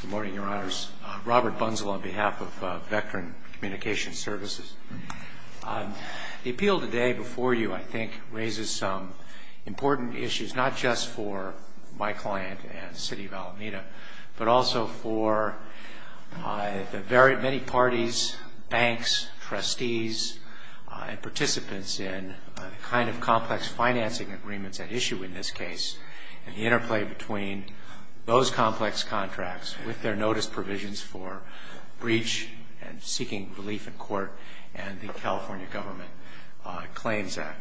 Good morning, Your Honors. Robert Bunzel on behalf of Vectren Communications Services. The appeal today before you, I think, raises some important issues, not just for my client and City of Alameda, but also for the very many parties, banks, trustees, and participants in the kind of complex financing agreements at issue in this case and the interplay between those complex contracts with their notice provisions for breach and seeking relief in court and the California Government Claims Act.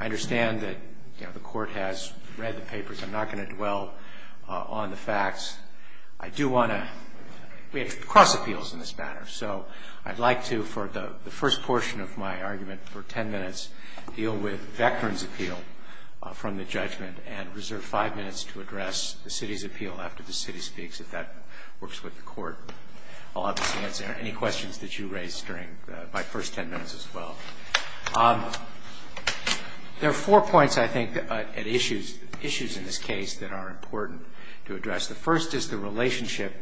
I understand that the court has read the papers. I'm not going to dwell on the facts. I do want to, we have cross appeals in this matter, so I'd like to, for the first portion of my argument for ten minutes, deal with Vectren's appeal from the judgment and reserve five minutes to address the City's appeal after the City speaks, if that works with the court. I'll obviously answer any questions that you raise during my first ten minutes as well. There are four points, I think, at issues in this case that are important to address. The first is the relationship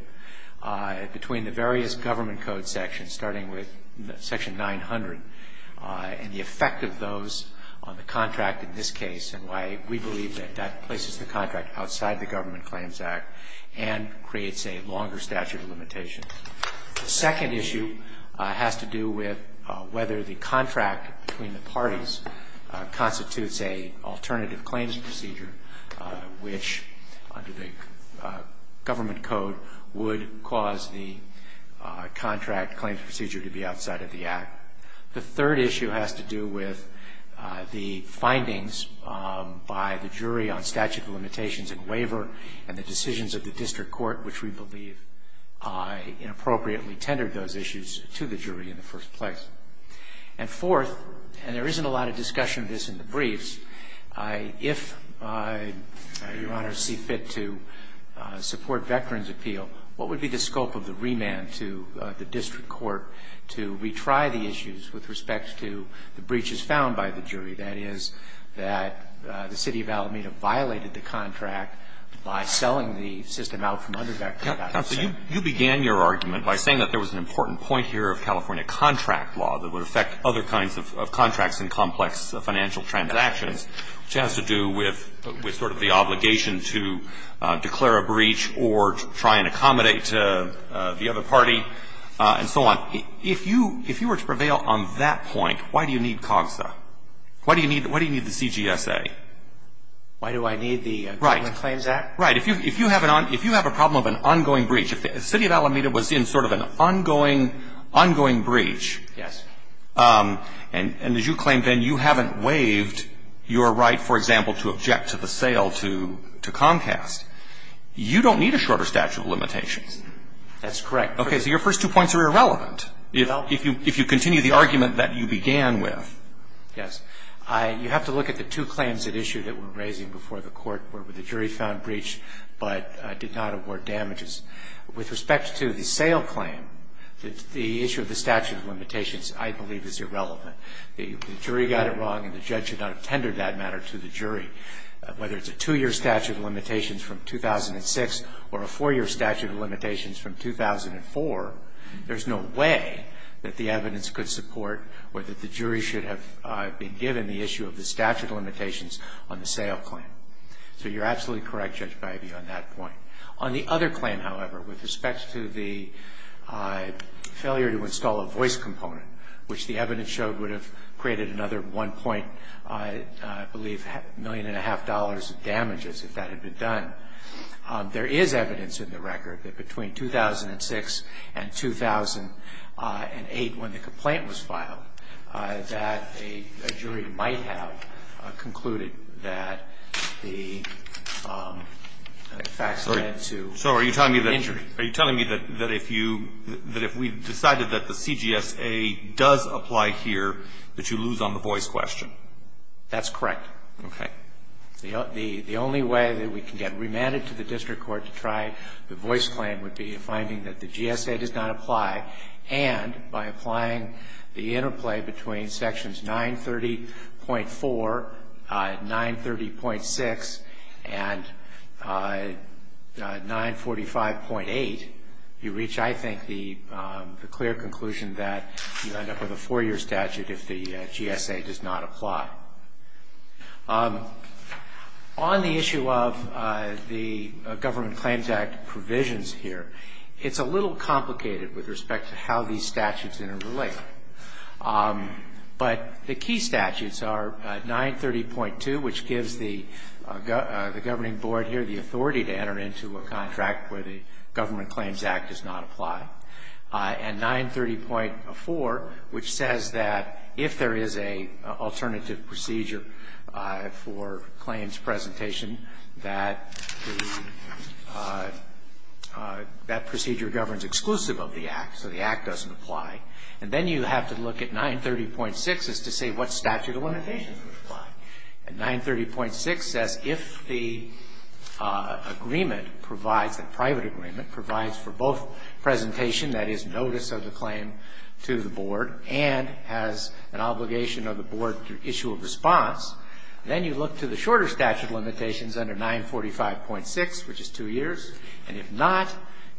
between the various government code sections, starting with Section 900, and the effect of those on the contract in this case and why we believe that that places the contract outside the Government Claims Act and creates a longer statute of limitations. The second issue has to do with whether the contract between the parties constitutes an alternative claims procedure, which, under the government code, would cause the contract claims procedure to be outside of the Act. The third issue has to do with the findings by the jury on statute of limitations and waiver and the decisions of the district court, which we believe inappropriately tendered those issues to the jury in the first place. And fourth, and there isn't a lot of discussion of this in the briefs, if Your Honor see fit to support Vectren's appeal, what would be the scope of the remand to the district court to retry the issues with respect to the breaches found by the jury, that is, that the City of Alameda violated the contract by selling the system out from under Vectren's action? Roberts, you began your argument by saying that there was an important point here of California contract law that would affect other kinds of contracts and complex financial transactions, which has to do with sort of the obligation to declare a breach or try and accommodate the other party and so on. If you were to prevail on that point, why do you need COGSA? Why do you need the CGSA? Right. Right. If you have a problem of an ongoing breach, if the City of Alameda was in sort of an ongoing breach. Yes. And as you claim, Ben, you haven't waived your right, for example, to object to the sale to Comcast. You don't need a shorter statute of limitations. That's correct. Okay. So your first two points are irrelevant if you continue the argument that you began with. Yes. You have to look at the two claims at issue that we're raising before the Court where the jury found breach but did not award damages. With respect to the sale claim, the issue of the statute of limitations, I believe, is irrelevant. The jury got it wrong and the judge should not have tendered that matter to the jury. Whether it's a two-year statute of limitations from 2006 or a four-year statute of limitations from 2004, there's no way that the evidence could support or that the jury should have been given the issue of the statute of limitations on the sale claim. So you're absolutely correct, Judge Bivey, on that point. On the other claim, however, with respect to the failure to install a voice component, which the evidence showed would have created another one point, I believe, million and a half dollars of damages if that had been done, there is evidence in the record that between 2006 and 2008, when the complaint was filed, that a jury might have concluded that the facts led to an injury. So are you telling me that if you – that if we decided that the CGSA does apply here, that you lose on the voice question? That's correct. Okay. The only way that we can get remanded to the district court to try the voice claim would be finding that the GSA does not apply, and by applying the interplay between sections 930.4, 930.6, and 945.8, you reach, I think, the clear conclusion that you end up with a four-year statute if the GSA does not apply. On the issue of the Government Claims Act provisions here, it's a little complicated with respect to how these statutes interrelate. But the key statutes are 930.2, which gives the governing board here the authority to enter into a contract where the Government Claims Act does not apply, and 930.4, which says that if there is an alternative procedure for claims presentation, that the – that procedure governs exclusive of the Act, so the Act doesn't apply. And then you have to look at 930.6 as to say what statute of limitations would apply. And 930.6 says if the agreement provides – the private agreement provides for both presentation, that is, notice of the claim to the board, and has an obligation of the board to issue a response, then you look to the shorter statute of limitations under 945.6, which is two years, and if not,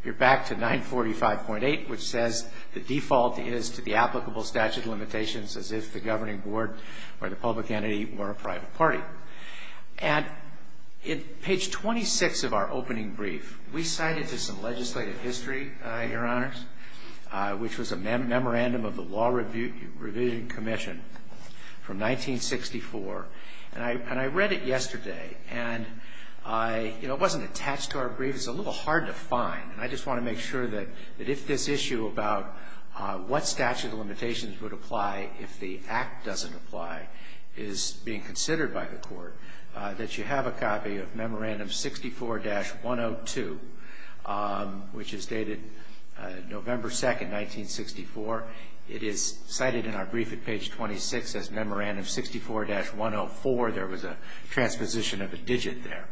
you're back to 945.8, which says the default is to the applicable statute of limitations as if the governing board or the public entity were a private party. And in page 26 of our opening brief, we cited some legislative history, Your Honors, which was a memorandum of the Law Revision Commission from 1964. And I read it yesterday, and I – you know, it wasn't attached to our brief. It's a little hard to find, and I just want to make sure that if this issue about what statute of limitations would apply if the Act doesn't apply is being considered by the court, that you have a copy of Memorandum 64-102, which is dated November 2, 1964. It is cited in our brief at page 26 as Memorandum 64-104. There was a transposition of a digit there.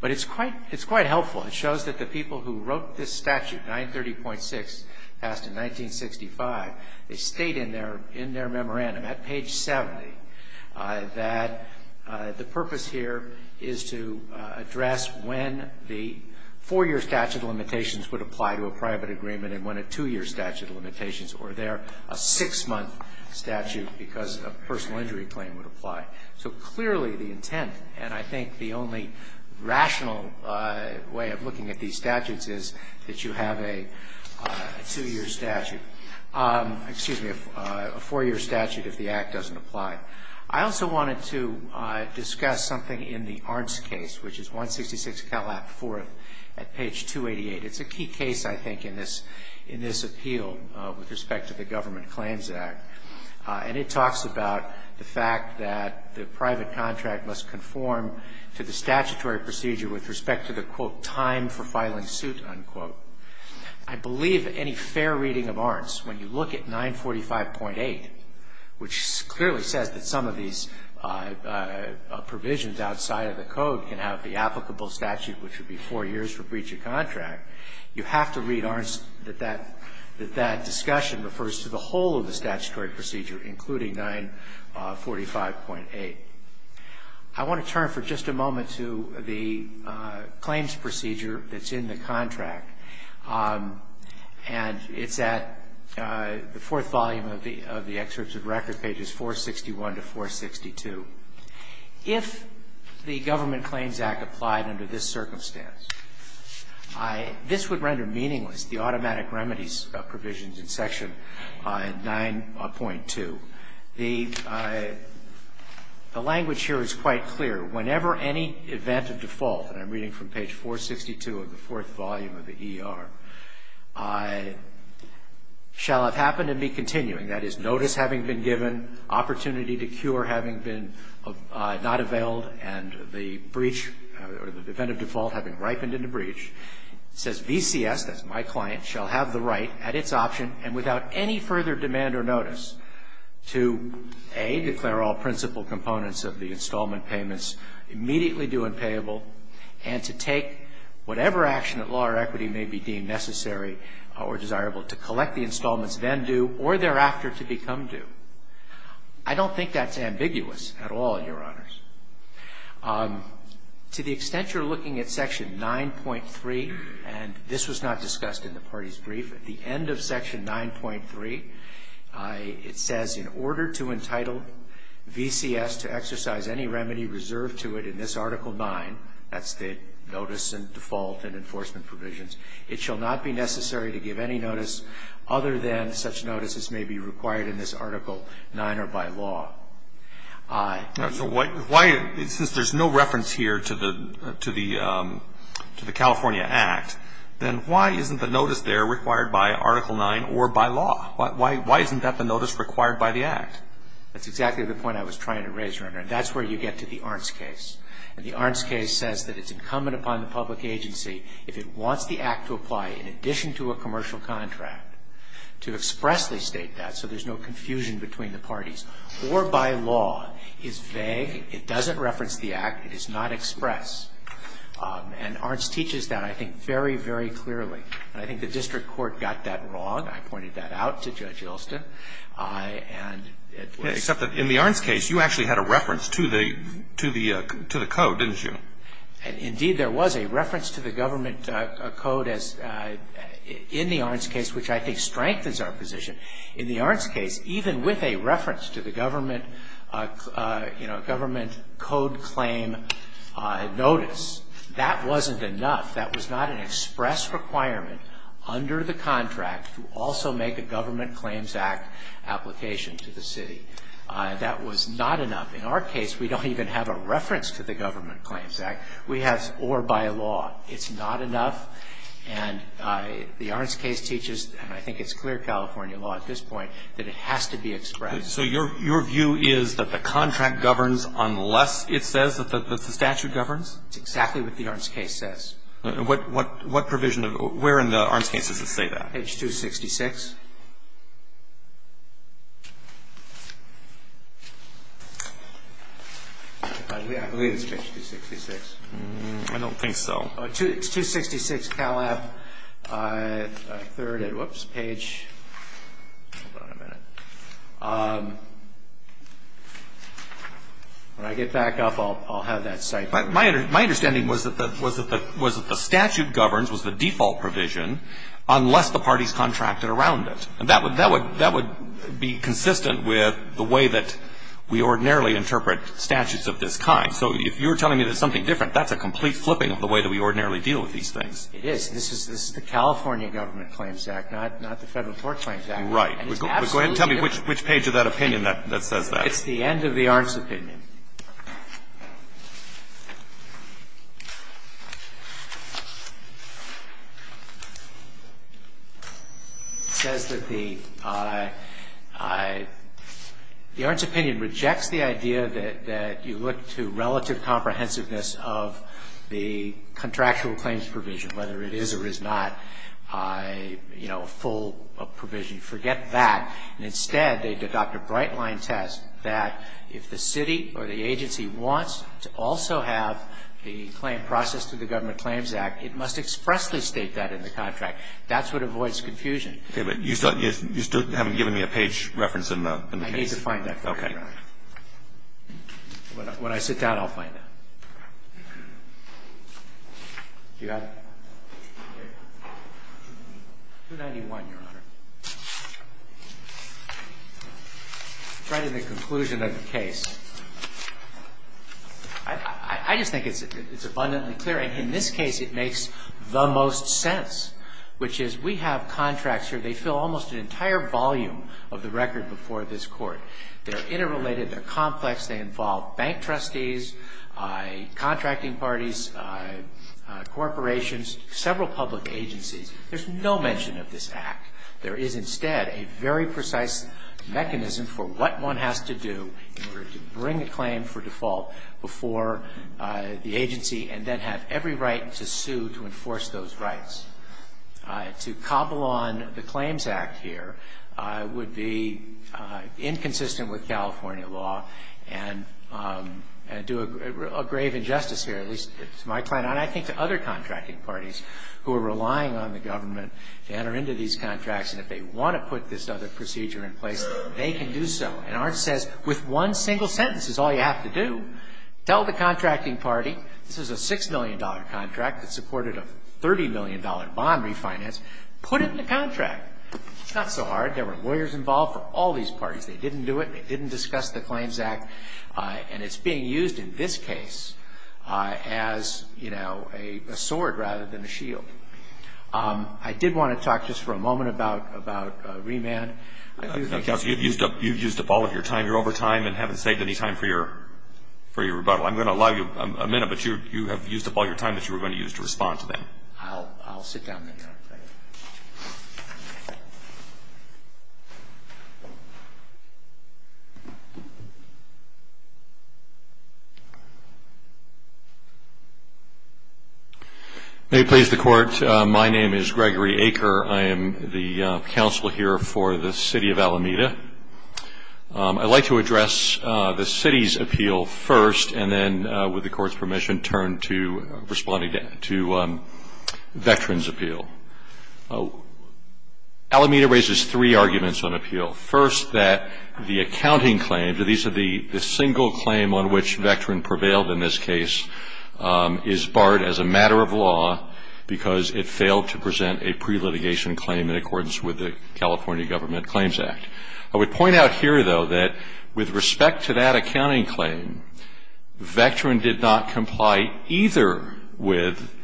But it's quite helpful. It shows that the people who wrote this statute, 930.6, passed in 1965, they state in their memorandum at page 70 that the purpose here is to address when the four-year statute of limitations would apply to a private agreement and when a two-year statute of limitations, or there a six-month statute because a personal injury claim would apply. So clearly the intent, and I think the only rational way of looking at these statutes, is that you have a two-year statute – excuse me, a four-year statute if the Act doesn't apply. I also wanted to discuss something in the Arntz case, which is 166 Calab IV at page 288. It's a key case, I think, in this appeal with respect to the Government Claims Act. And it talks about the fact that the private contract must conform to the statutory procedure with respect to the, quote, time for filing suit, unquote. I believe that any fair reading of Arntz, when you look at 945.8, which clearly says that some of these provisions outside of the Code can have the applicable statute, which would be four years for breach of contract, you have to read Arntz that that discussion refers to the whole of the statutory procedure, including 945.8. I want to turn for just a moment to the claims procedure that's in the contract. And it's at the fourth volume of the excerpts of record, pages 461 to 462. If the Government Claims Act applied under this circumstance, this would render meaningless the automatic remedies provisions in Section 9.2. The language here is quite clear. Whenever any event of default, and I'm reading from page 462 of the fourth volume of the ER, shall have happened and be continuing, that is, notice having been given, opportunity to cure having been not availed, and the event of default having ripened into breach, it says VCS, that's my client, shall have the right at its option and without any further demand or notice to, A, declare all principal components of the installment payments immediately due and payable, and to take whatever action at law or equity may be deemed necessary or desirable to collect the installments then due or thereafter to become due. I don't think that's ambiguous at all, Your Honors. To the extent you're looking at Section 9.3, and this was not discussed in the party's brief, at the end of Section 9.3, it says, in order to entitle VCS to exercise any remedy reserved to it in this Article 9, that's the notice and default and enforcement provisions, it shall not be necessary to give any notice other than such notices may be required in this Article 9 or by law. So why, since there's no reference here to the California Act, then why isn't the notice there required by Article 9 or by law? Why isn't that the notice required by the Act? That's exactly the point I was trying to raise, Your Honor, and that's where you public agency, if it wants the Act to apply in addition to a commercial contract to expressly state that so there's no confusion between the parties, or by law, is vague, it doesn't reference the Act, it is not expressed. And Arntz teaches that, I think, very, very clearly. And I think the district court got that wrong. I pointed that out to Judge Yelston, and it was Except that in the Arntz case, you actually had a reference to the code, didn't you? Indeed, there was a reference to the government code as, in the Arntz case, which I think strengthens our position. In the Arntz case, even with a reference to the government, you know, government code claim notice, that wasn't enough. That was not an express requirement under the contract to also make a Government Claims Act application to the city. That was not enough. In our case, we don't even have a reference to the Government Claims Act. We have or by law. It's not enough. And the Arntz case teaches, and I think it's clear California law at this point, that it has to be expressed. So your view is that the contract governs unless it says that the statute governs? It's exactly what the Arntz case says. What provision? Where in the Arntz case does it say that? Page 266. I believe it's page 266. I don't think so. It's 266 Calab, third page. Hold on a minute. When I get back up, I'll have that cited. My understanding was that the statute governs, was the default provision, unless the parties contracted around it. And that would be consistent with the way that we ordinarily interpret statutes of this kind. So if you're telling me there's something different, that's a complete flipping of the way that we ordinarily deal with these things. It is. This is the California Government Claims Act, not the Federal Court Claims Act. Right. Go ahead and tell me which page of that opinion that says that. It's the end of the Arntz opinion. It says that the Arntz opinion rejects the idea that you look to relative comprehensiveness of the contractual claims provision, whether it is or is not, you know, a full provision. Forget that. And instead, they adopt a bright-line test that if the city or the state or the agency wants to also have the claim processed through the Government Claims Act, it must expressly state that in the contract. That's what avoids confusion. Okay. But you still haven't given me a page reference in the case. I need to find that for you, Your Honor. Okay. When I sit down, I'll find it. Do you have it? 291, Your Honor. It's right in the conclusion of the case. I just think it's abundantly clear. And in this case, it makes the most sense, which is we have contracts here. They fill almost an entire volume of the record before this Court. They're interrelated. They're complex. They involve bank trustees, contracting parties, corporations, several public agencies. There's no mention of this act. There is instead a very precise mechanism for what one has to do in order to bring a claim for default before the agency and then have every right to sue to enforce those rights. To cobble on the Claims Act here would be inconsistent with California law and do a grave injustice here, at least to my client. And I think to other contracting parties who are relying on the government to enter into these contracts and if they want to put this other procedure in place, they can do so. And ours says with one single sentence is all you have to do. Tell the contracting party this is a $6 million contract that supported a $30 million bond refinance. Put it in the contract. It's not so hard. There were lawyers involved for all these parties. They didn't do it. They didn't discuss the Claims Act. And it's being used in this case as a sword rather than a shield. I did want to talk just for a moment about remand. Counsel, you've used up all of your time. You're over time and haven't saved any time for your rebuttal. I'm going to allow you a minute, but you have used up all your time that you were going to use to respond to them. I'll sit down then. May it please the Court, my name is Gregory Aker. I am the counsel here for the City of Alameda. I'd like to address the City's appeal first and then, with the Court's permission, turn to responding to Veterans' appeal. Alameda raises three arguments on appeal. First, that the accounting claim, these are the single claim on which Veterans prevailed in this case, is barred as a matter of law because it failed to present a pre-litigation claim in accordance with the California Government Claims Act. I would point out here, though, that with respect to that accounting claim, Veteran did not comply either with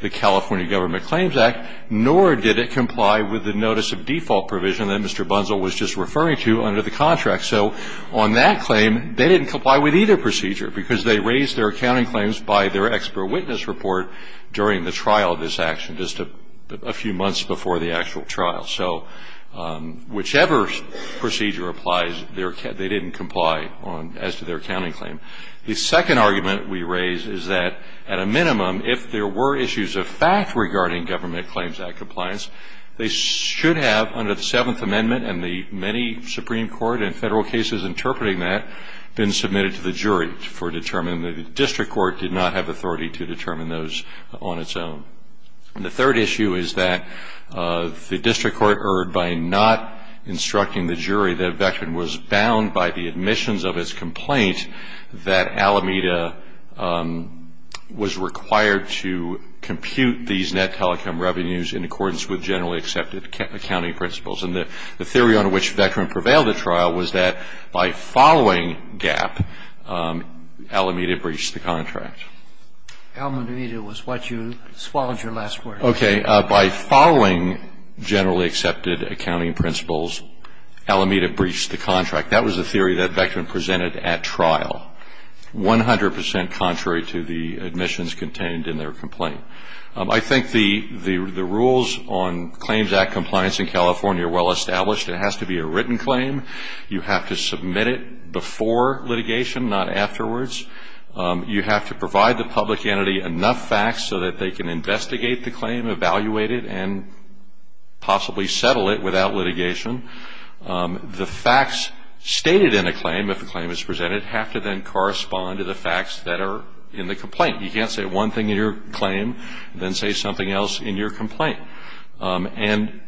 the California Government Claims Act, nor did it comply with the notice of default provision that Mr. Bunzel was just referring to under the contract. So on that claim, they didn't comply with either procedure because they raised their accounting claims by their expert witness report during the trial of this action just a few months before the actual trial. So whichever procedure applies, they didn't comply as to their accounting claim. The second argument we raise is that, at a minimum, if there were issues of fact regarding Government Claims Act compliance, they should have, under the Seventh Amendment and the many Supreme Court and Federal cases interpreting that, been submitted to the jury for determination. The District Court did not have authority to determine those on its own. And the third issue is that the District Court erred by not instructing the jury that Veteran was bound by the admissions of its complaint that Alameda was required to compute these net telecom revenues in accordance with generally accepted accounting principles. And the theory on which Veteran prevailed at trial was that by following GAP, Alameda breached the contract. Alameda was what you swallowed your last word. Okay. By following generally accepted accounting principles, Alameda breached the contract. That was the theory that Veteran presented at trial, 100 percent contrary to the admissions contained in their complaint. I think the rules on Claims Act compliance in California are well established. It has to be a written claim. You have to submit it before litigation, not afterwards. You have to provide the public entity enough facts so that they can investigate the claim, evaluate it, and possibly settle it without litigation. The facts stated in a claim, if a claim is presented, have to then correspond to the facts that are in the complaint. You can't say one thing in your claim and then say something else in your complaint. And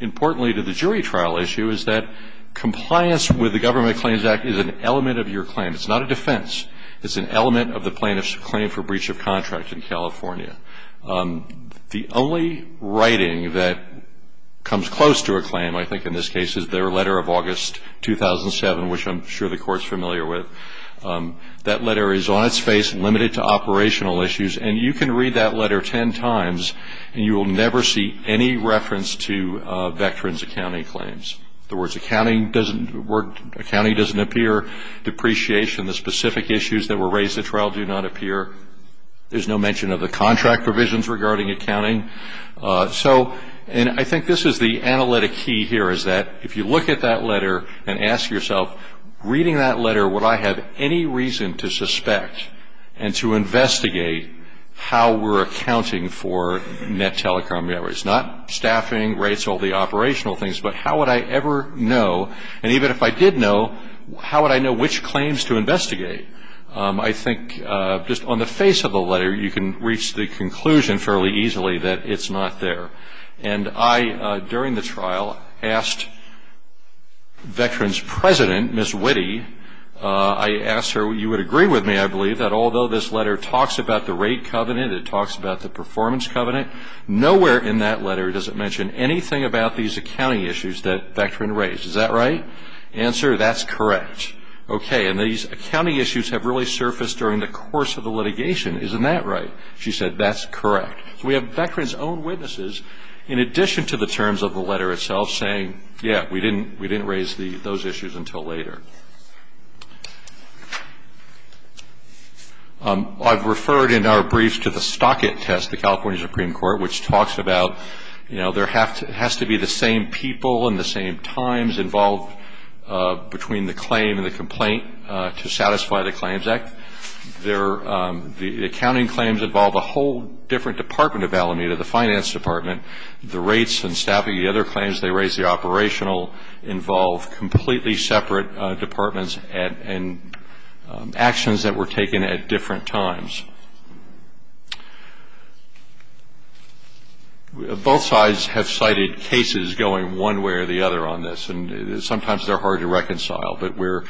importantly to the jury trial issue is that compliance with the Government of Claims Act is an element of your claim. It's not a defense. It's an element of the plaintiff's claim for breach of contract in California. The only writing that comes close to a claim, I think in this case, is their letter of August 2007, which I'm sure the Court is familiar with. That letter is on its face, limited to operational issues, and you can read that letter ten times and you will never see any reference to a Veteran's accounting claims. The words accounting doesn't work, accounting doesn't appear, depreciation, the specific issues that were raised at trial do not appear. There's no mention of the contract provisions regarding accounting. And I think this is the analytic key here, is that if you look at that letter and ask yourself, reading that letter would I have any reason to suspect and to investigate how we're accounting for net telecom barriers? Not staffing, rates, all the operational things, but how would I ever know, and even if I did know, how would I know which claims to investigate? I think just on the face of the letter, you can reach the conclusion fairly easily that it's not there. And I, during the trial, asked Veterans President, Ms. Witte, I asked her, you would agree with me, I believe, that although this letter talks about the rate covenant, it talks about the performance covenant, nowhere in that letter does it mention anything about these accounting issues that Veteran raised. Is that right? Answer, that's correct. Okay, and these accounting issues have really surfaced during the course of the litigation. Isn't that right? She said, that's correct. So we have Veteran's own witnesses, in addition to the terms of the letter itself, saying, yeah, we didn't raise those issues until later. I've referred in our briefs to the Stockett test, the California Supreme Court, which talks about, you know, there has to be the same people and the same times involved between the claim and the complaint to satisfy the Claims Act. The accounting claims involve a whole different Department of Alameda, the Finance Department. The rates and staffing, the other claims they raise, the operational, involve completely separate departments and actions that were taken at different times. Both sides have cited cases going one way or the other on this, and sometimes they're hard to reconcile. But where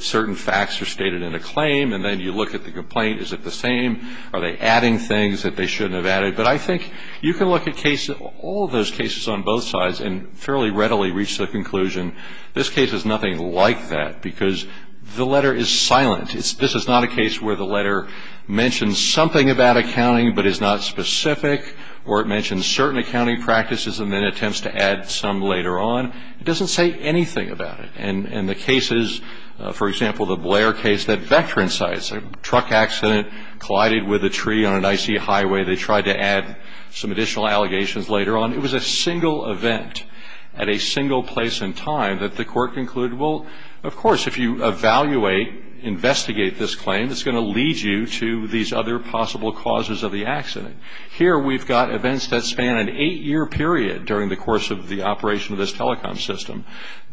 certain facts are stated in a claim, and then you look at the complaint, is it the same? Are they adding things that they shouldn't have added? But I think you can look at cases, all those cases on both sides, and fairly readily reach the conclusion, this case is nothing like that, because the letter is silent. This is not a case where the letter mentions something about accounting but is not specific, or it mentions certain accounting practices and then attempts to add some later on. It doesn't say anything about it. And the cases, for example, the Blair case, that Veteran sites, truck accident, collided with a tree on an icy highway. They tried to add some additional allegations later on. It was a single event at a single place in time that the court concluded, well, of course, if you evaluate, investigate this claim, it's going to lead you to these other possible causes of the accident. Here we've got events that span an eight-year period during the course of the operation of this telecom system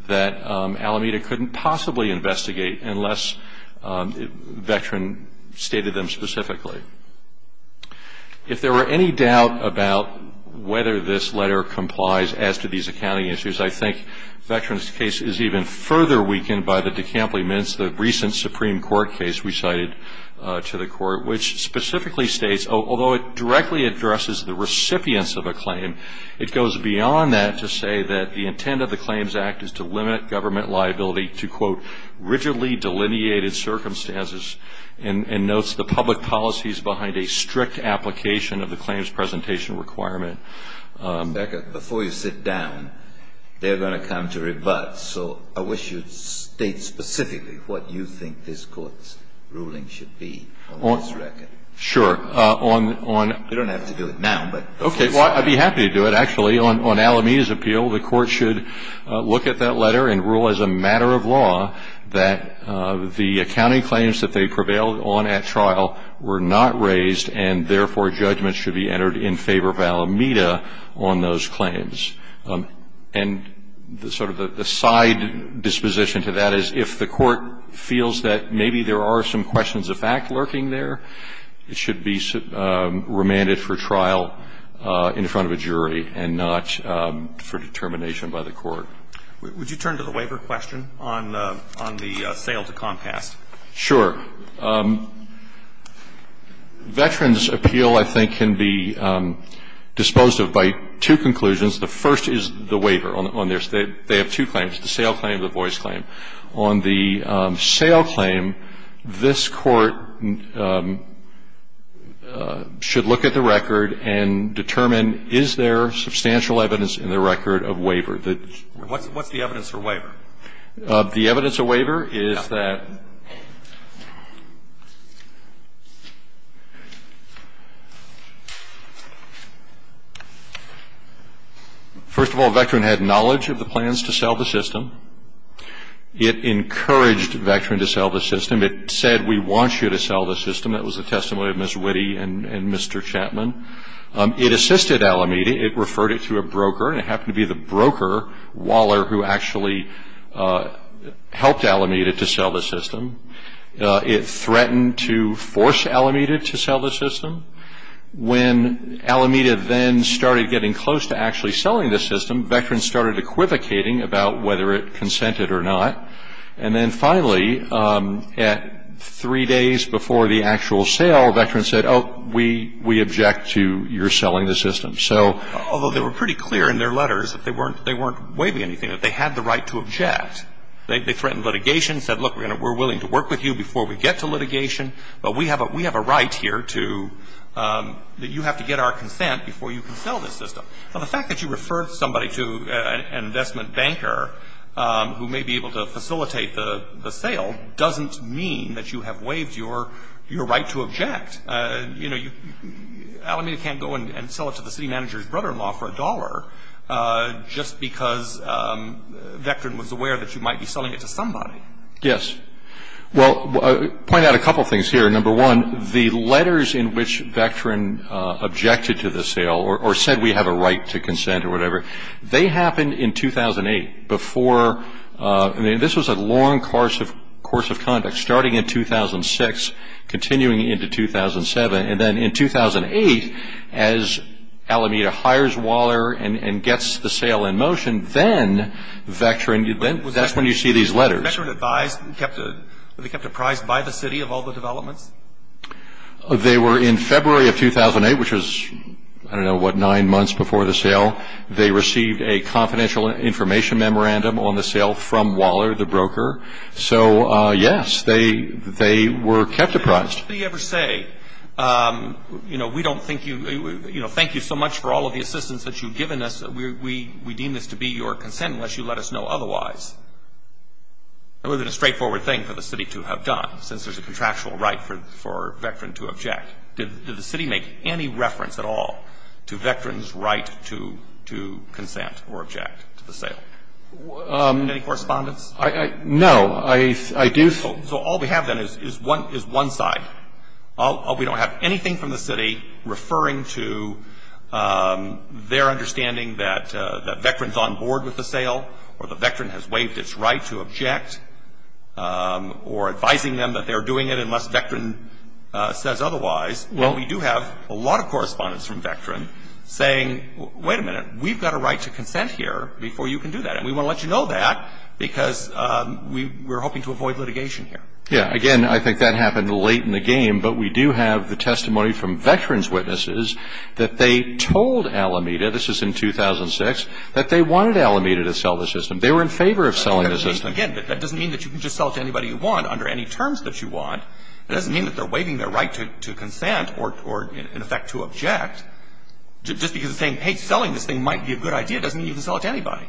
that Alameda couldn't possibly investigate unless Veteran stated them specifically. If there were any doubt about whether this letter complies as to these accounting issues, I think Veteran's case is even further weakened by the DeCampley-Mintz, the recent Supreme Court case we cited to the court, which specifically states, although it directly addresses the recipients of a claim, it goes beyond that to say that the intent of the Claims Act is to limit government liability to, quote, rigidly delineated circumstances and notes the public policies behind a strict application of the claims presentation requirement. Becca, before you sit down, they're going to come to rebuts, so I wish you'd state specifically what you think this Court's ruling should be on this record. Sure. You don't have to do it now. Okay. Well, I'd be happy to do it, actually. On Alameda's appeal, the Court should look at that letter and rule as a matter of law that the accounting claims that they prevailed on at trial were not raised, and therefore judgments should be entered in favor of Alameda on those claims. And sort of the side disposition to that is if the Court feels that maybe there are some questions of fact lurking there, it should be remanded for trial in front of a jury and not for determination by the Court. Would you turn to the waiver question on the sale to Comcast? Sure. Veterans' appeal, I think, can be disposed of by two conclusions. The first is the waiver. They have two claims, the sale claim and the voice claim. On the sale claim, this Court should look at the record and determine is there substantial evidence in the record of waiver. What's the evidence for waiver? The evidence of waiver is that, first of all, a veteran had knowledge of the plans to sell the system. It encouraged a veteran to sell the system. It said, we want you to sell the system. That was the testimony of Ms. Witte and Mr. Chapman. It assisted Alameda. It referred it to a broker, and it happened to be the broker, Waller, who actually helped Alameda to sell the system. It threatened to force Alameda to sell the system. When Alameda then started getting close to actually selling the system, veterans started equivocating about whether it consented or not. And then, finally, at three days before the actual sale, veterans said, oh, we object to your selling the system. Although they were pretty clear in their letters that they weren't waiving anything, that they had the right to object. They threatened litigation, said, look, we're willing to work with you before we get to litigation, but we have a right here that you have to get our consent before you can sell this system. Now, the fact that you referred somebody to an investment banker who may be able to facilitate the sale doesn't mean that you have waived your right to object. You know, Alameda can't go and sell it to the city manager's brother-in-law for $1 just because a veteran was aware that you might be selling it to somebody. Yes. Well, I'll point out a couple things here. Number one, the letters in which veteran objected to the sale or said we have a right to consent or whatever, they happened in 2008 before ñ I mean, this was a long course of conduct, starting in 2006, continuing into 2007. And then in 2008, as Alameda hires Waller and gets the sale in motion, then veteran ñ that's when you see these letters. Were the veteran advised and kept ñ were they kept apprised by the city of all the developments? They were in February of 2008, which was, I don't know what, nine months before the sale. They received a confidential information memorandum on the sale from Waller, the broker. So, yes, they were kept apprised. Now, what did he ever say? You know, we don't think you ñ you know, thank you so much for all of the assistance that you've given us. We deem this to be your consent unless you let us know otherwise. Was it a straightforward thing for the city to have done since there's a contractual right for veteran to object? Did the city make any reference at all to veteran's right to consent or object to the sale? Any correspondence? No. I do ñ So all we have, then, is one side. We don't have anything from the city referring to their understanding that veteran's on board with the sale or the veteran has waived its right to object or advising them that they're doing it unless veteran says otherwise. And we do have a lot of correspondence from veteran saying, wait a minute, we've got a right to consent here before you can do that. And we want to let you know that because we're hoping to avoid litigation here. Yeah. Again, I think that happened late in the game. But we do have the testimony from veteran's witnesses that they told Alameda, this is in 2006, that they wanted Alameda to sell the system. They were in favor of selling the system. Again, that doesn't mean that you can just sell it to anybody you want under any terms that you want. It doesn't mean that they're waiving their right to consent or, in effect, to object. Just because they're saying, hey, selling this thing might be a good idea doesn't mean you can sell it to anybody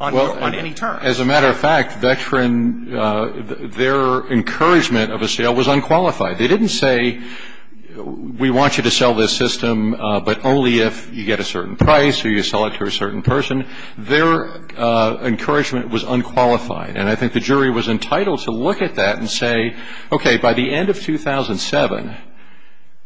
on any terms. As a matter of fact, veteran, their encouragement of a sale was unqualified. They didn't say, we want you to sell this system, but only if you get a certain price or you sell it to a certain person. Their encouragement was unqualified. And I think the jury was entitled to look at that and say, okay, by the end of 2007,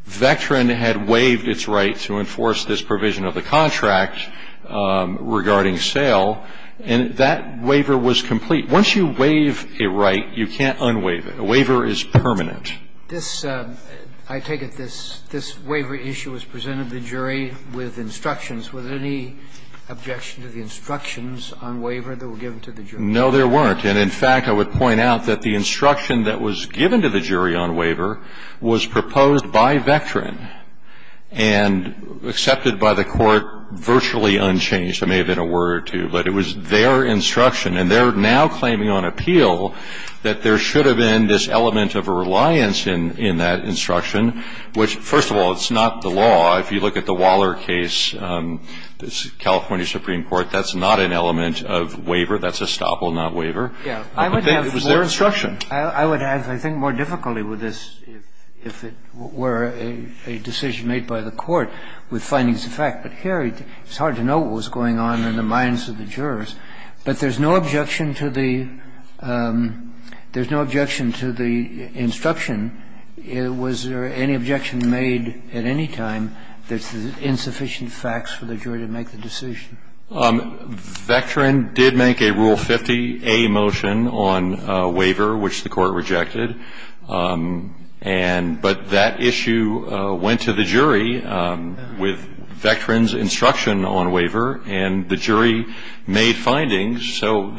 veteran had waived its right to enforce this provision of the contract regarding sale. And that waiver was complete. Once you waive a right, you can't unwaive it. A waiver is permanent. This, I take it this waiver issue was presented to the jury with instructions. Was there any objection to the instructions on waiver that were given to the jury? No, there weren't. And, in fact, I would point out that the instruction that was given to the jury on waiver was proposed by veteran and accepted by the Court virtually unchanged. It may have been a word or two, but it was their instruction. And they're now claiming on appeal that there should have been this element of a reliance in that instruction, which, first of all, it's not the law. If you look at the Waller case, California Supreme Court, that's not an element of waiver. That's a stopple, not waiver. But it was their instruction. I would have, I think, more difficulty with this if it were a decision made by the Court with findings of fact. But here, it's hard to know what was going on in the minds of the jurors. But there's no objection to the – there's no objection to the instruction. Was there any objection made at any time that there's insufficient facts for the jury to make the decision? Veteran did make a Rule 50a motion on waiver, which the Court rejected. And – but that issue went to the jury with veteran's instruction on waiver, and the jury made findings. So,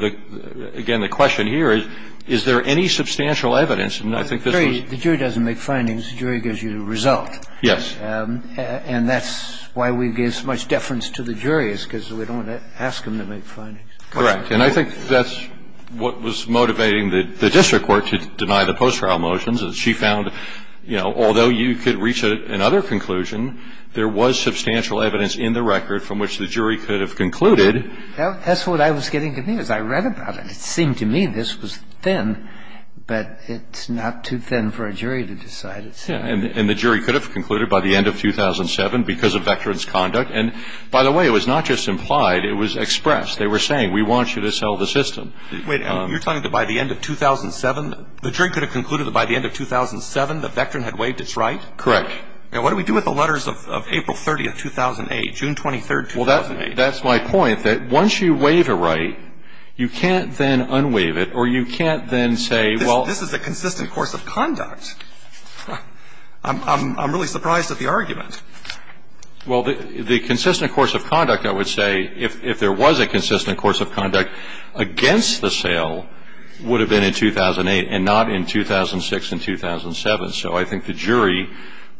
again, the question here is, is there any substantial evidence? And I think this was – The jury doesn't make findings. The jury gives you the result. Yes. And that's why we give so much deference to the jurors, because we don't want to ask them to make findings. Correct. And I think that's what was motivating the district court to deny the post-trial motions. She found, you know, although you could reach another conclusion, there was substantial evidence in the record from which the jury could have concluded. That's what I was getting to me as I read about it. It seemed to me this was thin, but it's not too thin for a jury to decide. Yeah. And the jury could have concluded by the end of 2007 because of veteran's conduct. And, by the way, it was not just implied. It was expressed. They were saying, we want you to sell the system. Wait. You're telling me that by the end of 2007, the jury could have concluded that by the end of 2007, the veteran had waived its right? Correct. Now, what do we do with the letters of April 30th, 2008, June 23rd, 2008? Well, that's my point, that once you waive a right, you can't then unwaive it or you can't then say, well – This is a consistent course of conduct. I'm really surprised at the argument. Well, the consistent course of conduct, I would say, if there was a consistent course of conduct against the sale, would have been in 2008 and not in 2006 and 2007. So I think the jury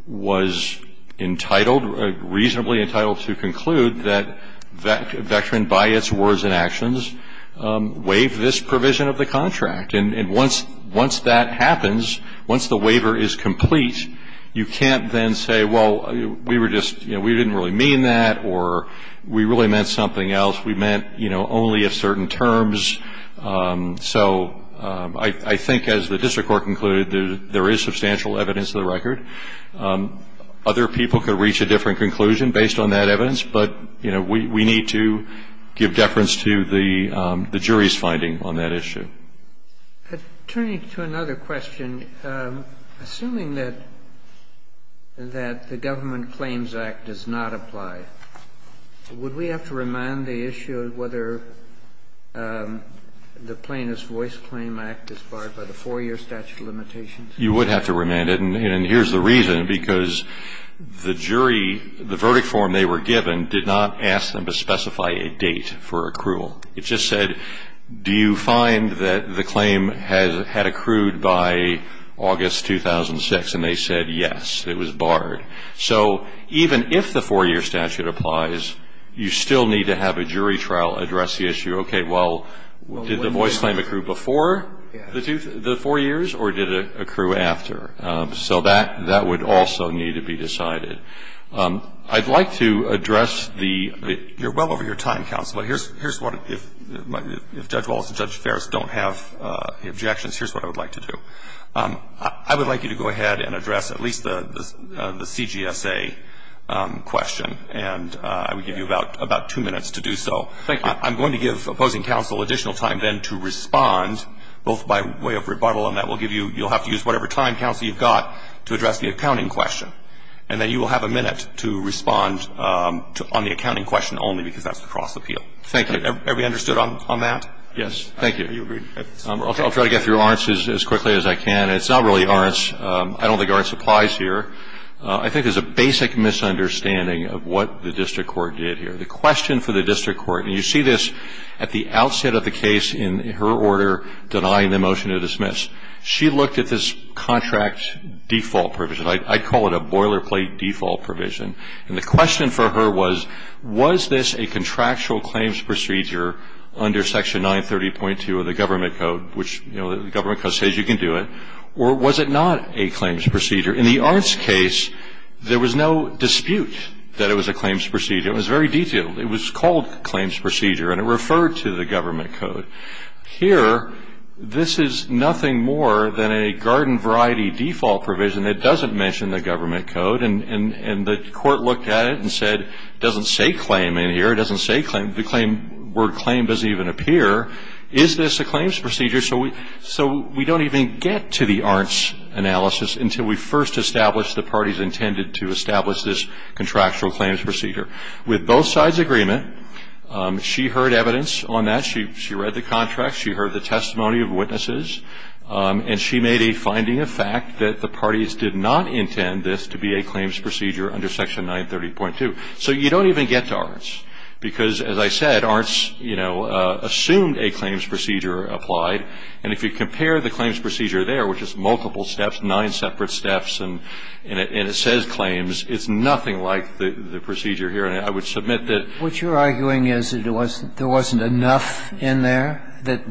was entitled, reasonably entitled, to conclude that veteran, by its words and actions, waived this provision of the contract. And once that happens, once the waiver is complete, you can't then say, well, we didn't really mean that or we really meant something else. We meant only of certain terms. So I think, as the district court concluded, there is substantial evidence to the record. Other people could reach a different conclusion based on that evidence, But, you know, we need to give deference to the jury's finding on that issue. Turning to another question, assuming that the Government Claims Act does not apply, would we have to remand the issue of whether the Plaintiff's Voice Claim Act is barred by the 4-year statute of limitations? You would have to remand it. And here's the reason, because the jury, the verdict form they were given, did not ask them to specify a date for accrual. It just said, do you find that the claim had accrued by August 2006? And they said, yes, it was barred. So even if the 4-year statute applies, you still need to have a jury trial address the issue. Okay, well, did the voice claim accrue before the 4 years, or did it accrue after? So that would also need to be decided. I'd like to address the You're well over your time, counsel, but here's what, if Judge Wallace and Judge Ferris don't have objections, here's what I would like to do. I would like you to go ahead and address at least the CGSA question, and I would give you about 2 minutes to do so. Thank you. I'm going to give opposing counsel additional time then to respond, both by way of rebuttal, and that will give you you'll have to use whatever time, counsel, you've got to address the accounting question. And then you will have a minute to respond on the accounting question only, because that's the cross appeal. Thank you. Are we understood on that? Yes. Thank you. I'll try to get through Arntz as quickly as I can. It's not really Arntz. I don't think Arntz applies here. I think there's a basic misunderstanding of what the district court did here. The question for the district court, and you see this at the outset of the case in her order denying the motion to dismiss. She looked at this contract default provision. I call it a boilerplate default provision. And the question for her was, was this a contractual claims procedure under Section 930.2 of the Government Code, which the Government Code says you can do it, or was it not a claims procedure? In the Arntz case, there was no dispute that it was a claims procedure. It was very detailed. It was called claims procedure, and it referred to the Government Code. Here, this is nothing more than a garden variety default provision that doesn't mention the Government Code. And the court looked at it and said, it doesn't say claim in here. It doesn't say claim. The word claim doesn't even appear. Is this a claims procedure? So we don't even get to the Arntz analysis until we first establish the parties intended to establish this contractual claims procedure. With both sides' agreement, she heard evidence on that. She read the contract. She heard the testimony of witnesses. And she made a finding of fact that the parties did not intend this to be a claims procedure under Section 930.2. So you don't even get to Arntz, because, as I said, Arntz, you know, assumed a claims procedure applied. And if you compare the claims procedure there, which is multiple steps, nine separate steps, and it says claims, it's nothing like the procedure here. And I would submit that what you're arguing is that there wasn't enough in there, that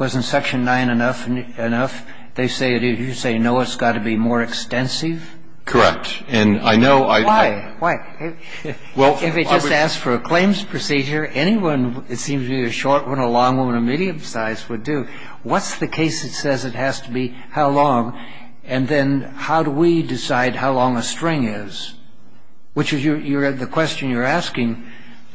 wasn't Section 9 enough. They say it is. You say, no, it's got to be more extensive. Correct. And I know I don't. Why? Why? If it just asks for a claims procedure, anyone, it seems to me, a short woman, a long woman, a medium size would do. What's the case that says it has to be how long? And then how do we decide how long a string is? Which is your question you're asking,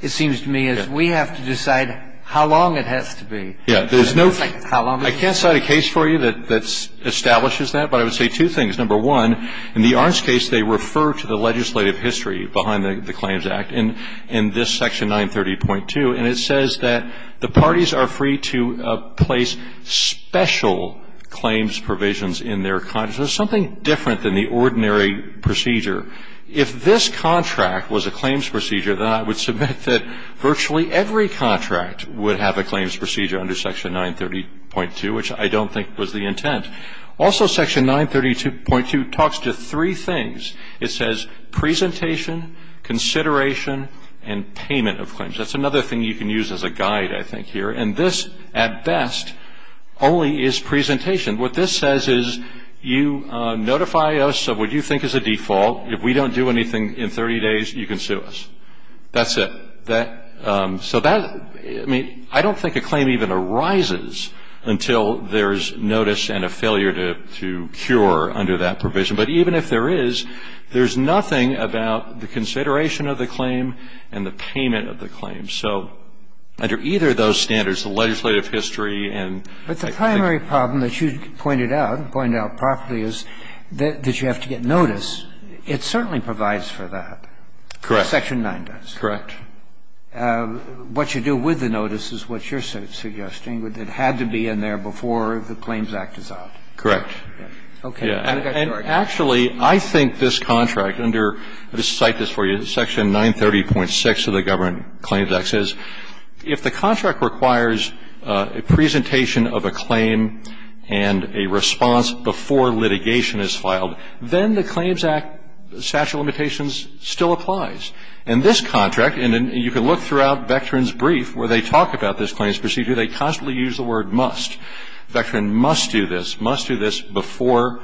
it seems to me, is we have to decide how long it has to be. Yeah. There's no ---- I can't cite a case for you that establishes that. But I would say two things. Number one, in the Ahrens case, they refer to the legislative history behind the Claims Act in this Section 930.2, and it says that the parties are free to place special claims provisions in their contracts. So it's something different than the ordinary procedure. If this contract was a claims procedure, then I would submit that virtually every contract would have a claims procedure under Section 930.2, which I don't think was the intent. Also, Section 930.2 talks to three things. It says presentation, consideration, and payment of claims. That's another thing you can use as a guide, I think, here. And this, at best, only is presentation. What this says is you notify us of what you think is a default. If we don't do anything in 30 days, you can sue us. That's it. So that, I mean, I don't think a claim even arises until there's notice and a failure to cure under that provision. But even if there is, there's nothing about the consideration of the claim and the payment of the claim. So under either of those standards, the legislative history and I think ---- But the primary problem that you pointed out, pointed out properly, is that you have to get notice. It certainly provides for that. Correct. Section 9 does. Correct. What you do with the notice is what you're suggesting. It had to be in there before the Claims Act is out. Correct. Okay. Actually, I think this contract under ---- let me cite this for you. Section 930.6 of the Government Claims Act says if the contract requires a presentation of a claim and a response before litigation is filed, then the Claims Act statute of limitations still applies. And this contract, and you can look throughout Vectran's brief where they talk about this claims procedure, they constantly use the word must. Vectran must do this, must do this before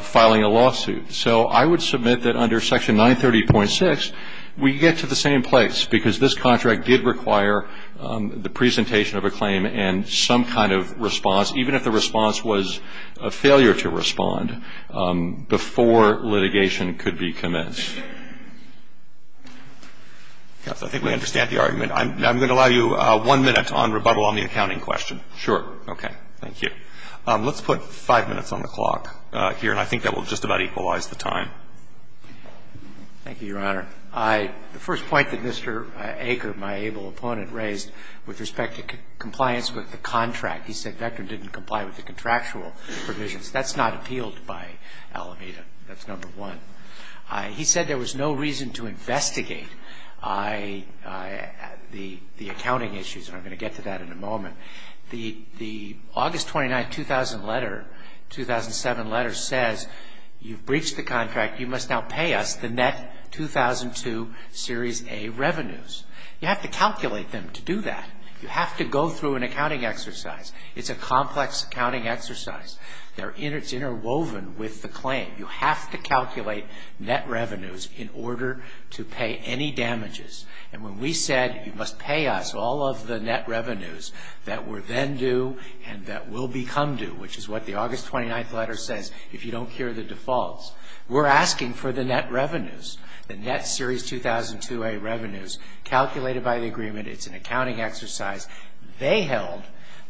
filing a lawsuit. So I would submit that under Section 930.6, we get to the same place, because this contract did require the presentation of a claim and some kind of response, even if the response was a failure to respond, before litigation could be commenced. I think we understand the argument. I'm going to allow you one minute on rebuttal on the accounting question. Sure. Okay. Thank you. Let's put 5 minutes on the clock here, and I think that will just about equalize the time. Thank you, Your Honor. The first point that Mr. Aker, my able opponent, raised with respect to compliance with the contract, he said Vectran didn't comply with the contractual provisions. That's not appealed by Alameda. That's number one. He said there was no reason to investigate the accounting issues, and I'm going to get to that in a moment. The August 29, 2000 letter, 2007 letter says you've breached the contract. You must now pay us the net 2002 Series A revenues. You have to calculate them to do that. You have to go through an accounting exercise. It's a complex accounting exercise. It's interwoven with the claim. You have to calculate net revenues in order to pay any damages. And when we said you must pay us all of the net revenues that were then due and that will become due, which is what the August 29 letter says, if you don't hear the defaults, we're asking for the net revenues, the net Series 2002 A revenues calculated by the agreement. It's an accounting exercise. They held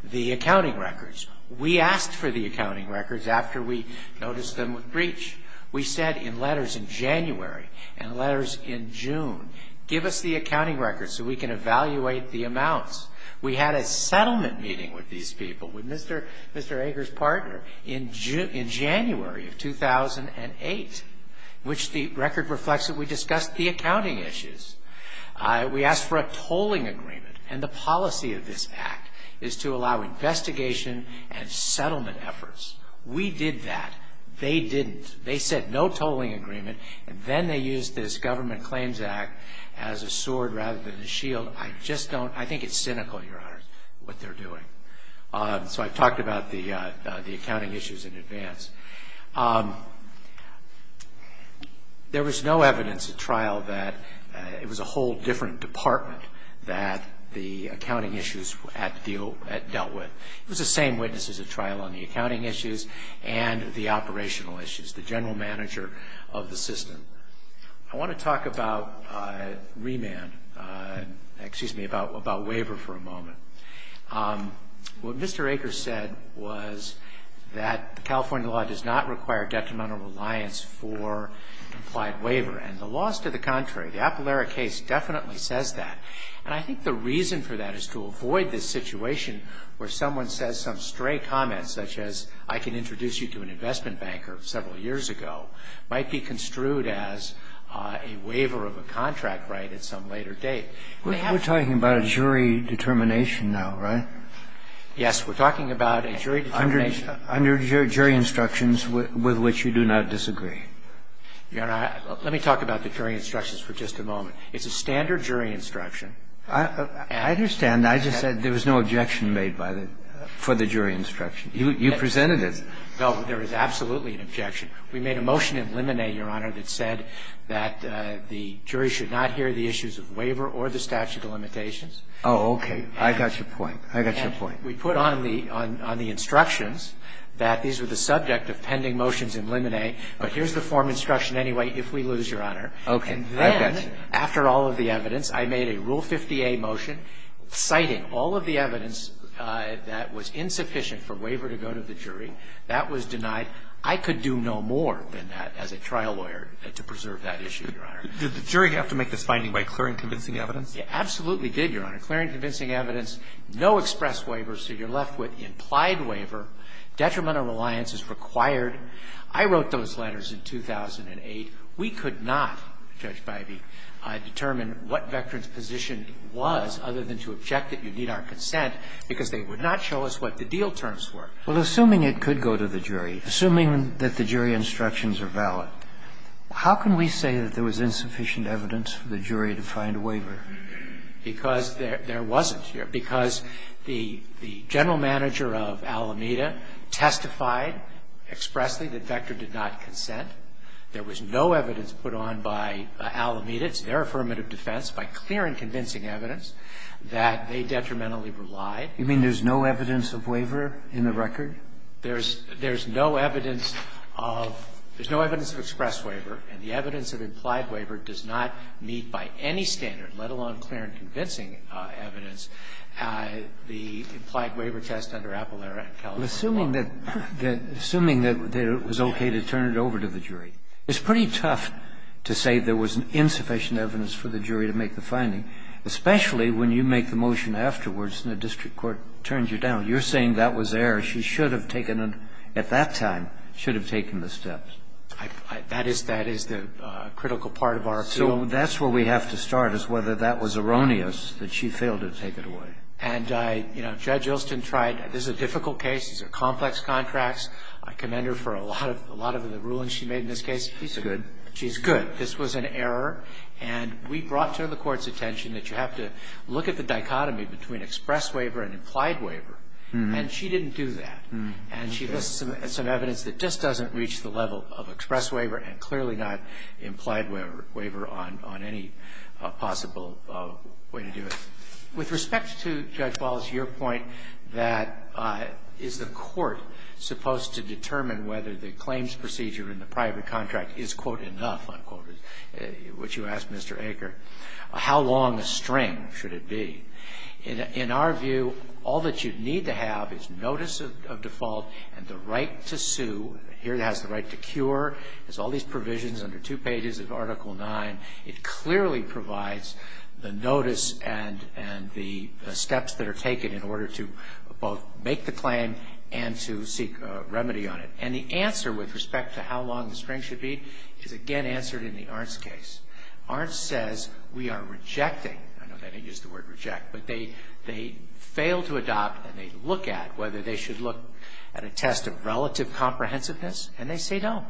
the accounting records. We asked for the accounting records after we noticed them with breach. We said in letters in January and letters in June, give us the accounting records so we can evaluate the amounts. We had a settlement meeting with these people, with Mr. Ager's partner, in January of 2008, which the record reflects that we discussed the accounting issues. We asked for a tolling agreement. And the policy of this act is to allow investigation and settlement efforts. We did that. They didn't. They said no tolling agreement. And then they used this Government Claims Act as a sword rather than a shield. I just don't. I think it's cynical, Your Honor, what they're doing. So I've talked about the accounting issues in advance. There was no evidence at trial that it was a whole different department that the accounting issues dealt with. It was the same witnesses at trial on the accounting issues and the operational issues, the general manager of the system. I want to talk about remand, excuse me, about waiver for a moment. What Mr. Ager said was that the California law does not require detrimental reliance for implied waiver. And the law is to the contrary. The Apalera case definitely says that. And I think the reason for that is to avoid this situation where someone says some stray comment, such as I can introduce you to an investment banker several years ago, might be construed as a waiver of a contract right at some later date. We're talking about a jury determination now, right? Yes, we're talking about a jury determination. Under jury instructions with which you do not disagree. Your Honor, let me talk about the jury instructions for just a moment. It's a standard jury instruction. I understand. I just said there was no objection made for the jury instruction. You presented it. No, there is absolutely an objection. We made a motion in limine, Your Honor, that said that the jury should not hear the issues of waiver or the statute of limitations. Oh, okay. I got your point. I got your point. We put on the instructions that these were the subject of pending motions in limine, but here's the form instruction anyway if we lose, Your Honor. Okay. I got you. And then, after all of the evidence, I made a Rule 50A motion citing all of the evidence that was insufficient for waiver to go to the jury. That was denied. I could do no more than that as a trial lawyer to preserve that issue, Your Honor. Did the jury have to make this finding by clearing convincing evidence? It absolutely did, Your Honor. Clearing convincing evidence, no express waiver, so you're left with implied waiver. Detrimental reliance is required. I wrote those letters in 2008. We could not, Judge Bivey, determine what Veterans' position was other than to object that you need our consent because they would not show us what the deal terms were. Well, assuming it could go to the jury, assuming that the jury instructions are valid, how can we say that there was insufficient evidence for the jury to find a waiver? Because there wasn't, Your Honor, because the general manager of Alameda testified expressly that Vector did not consent. There was no evidence put on by Alameda, it's their affirmative defense, by clearing convincing evidence that they detrimentally relied. You mean there's no evidence of waiver in the record? There's no evidence of express waiver, and the evidence of implied waiver does not meet by any standard, let alone clear and convincing evidence, the implied waiver test under Appalera and California law. Assuming that it was okay to turn it over to the jury. It's pretty tough to say there was insufficient evidence for the jury to make the finding, especially when you make the motion afterwards and the district court turns you down. You're saying that was error. She should have taken, at that time, should have taken the steps. That is the critical part of our appeal. So that's where we have to start, is whether that was erroneous that she failed to take it away. And, you know, Judge Ilston tried. This is a difficult case. These are complex contracts. I commend her for a lot of the rulings she made in this case. She's good. She's good. This was an error. And we brought to the Court's attention that you have to look at the dichotomy between express waiver and implied waiver. And she didn't do that. And she lists some evidence that just doesn't reach the level of express waiver and clearly not implied waiver on any possible way to do it. With respect to Judge Wallace, your point that is the Court supposed to determine whether the claims procedure in the private contract is, quote, enough, unquote, which you asked Mr. Aker, how long a string should it be. In our view, all that you need to have is notice of default and the right to sue. Here it has the right to cure. It has all these provisions under two pages of Article IX. It clearly provides the notice and the steps that are taken in order to both make the claim and to seek remedy on it. And the answer with respect to how long the string should be is, again, answered in the Arntz case. Arntz says we are rejecting. I know they didn't use the word reject, but they fail to adopt and they look at whether they should look at a test of relative comprehensiveness, and they say no.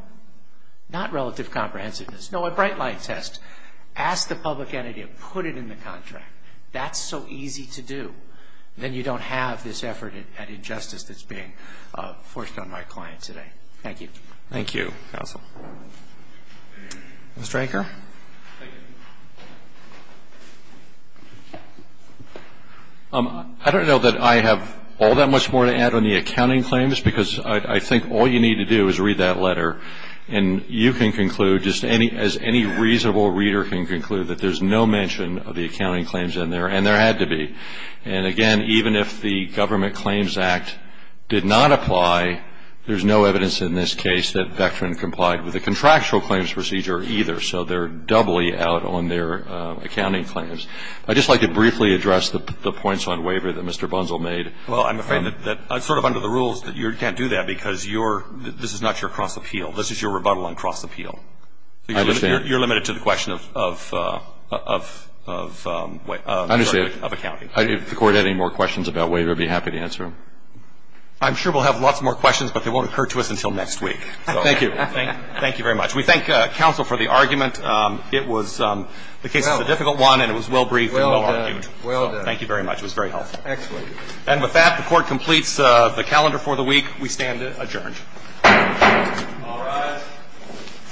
Not relative comprehensiveness. No, a bright line test. Ask the public entity and put it in the contract. That's so easy to do. Then you don't have this effort at injustice that's being forced on my client today. Thank you. Thank you, counsel. Mr. Aker? Thank you. I don't know that I have all that much more to add on the accounting claims, because I think all you need to do is read that letter, and you can conclude, just as any reasonable reader can conclude, that there's no mention of the accounting claims in there, and there had to be. And, again, even if the Government Claims Act did not apply, there's no evidence in this case that Vectran complied with the contractual claims procedure either. So they're doubly out on their accounting claims. I'd just like to briefly address the points on waiver that Mr. Bunzel made. Well, I'm afraid that sort of under the rules, you can't do that because this is not your cross appeal. This is your rebuttal on cross appeal. I understand. You're limited to the question of accounting. If the Court had any more questions about waiver, I'd be happy to answer them. I'm sure we'll have lots more questions, but they won't occur to us until next week. Thank you. Thank you very much. We thank counsel for the argument. It was the case is a difficult one, and it was well-briefed and well-argued. Well done. Thank you very much. It was very helpful. Excellent. And with that, the Court completes the calendar for the week. We stand adjourned. All rise.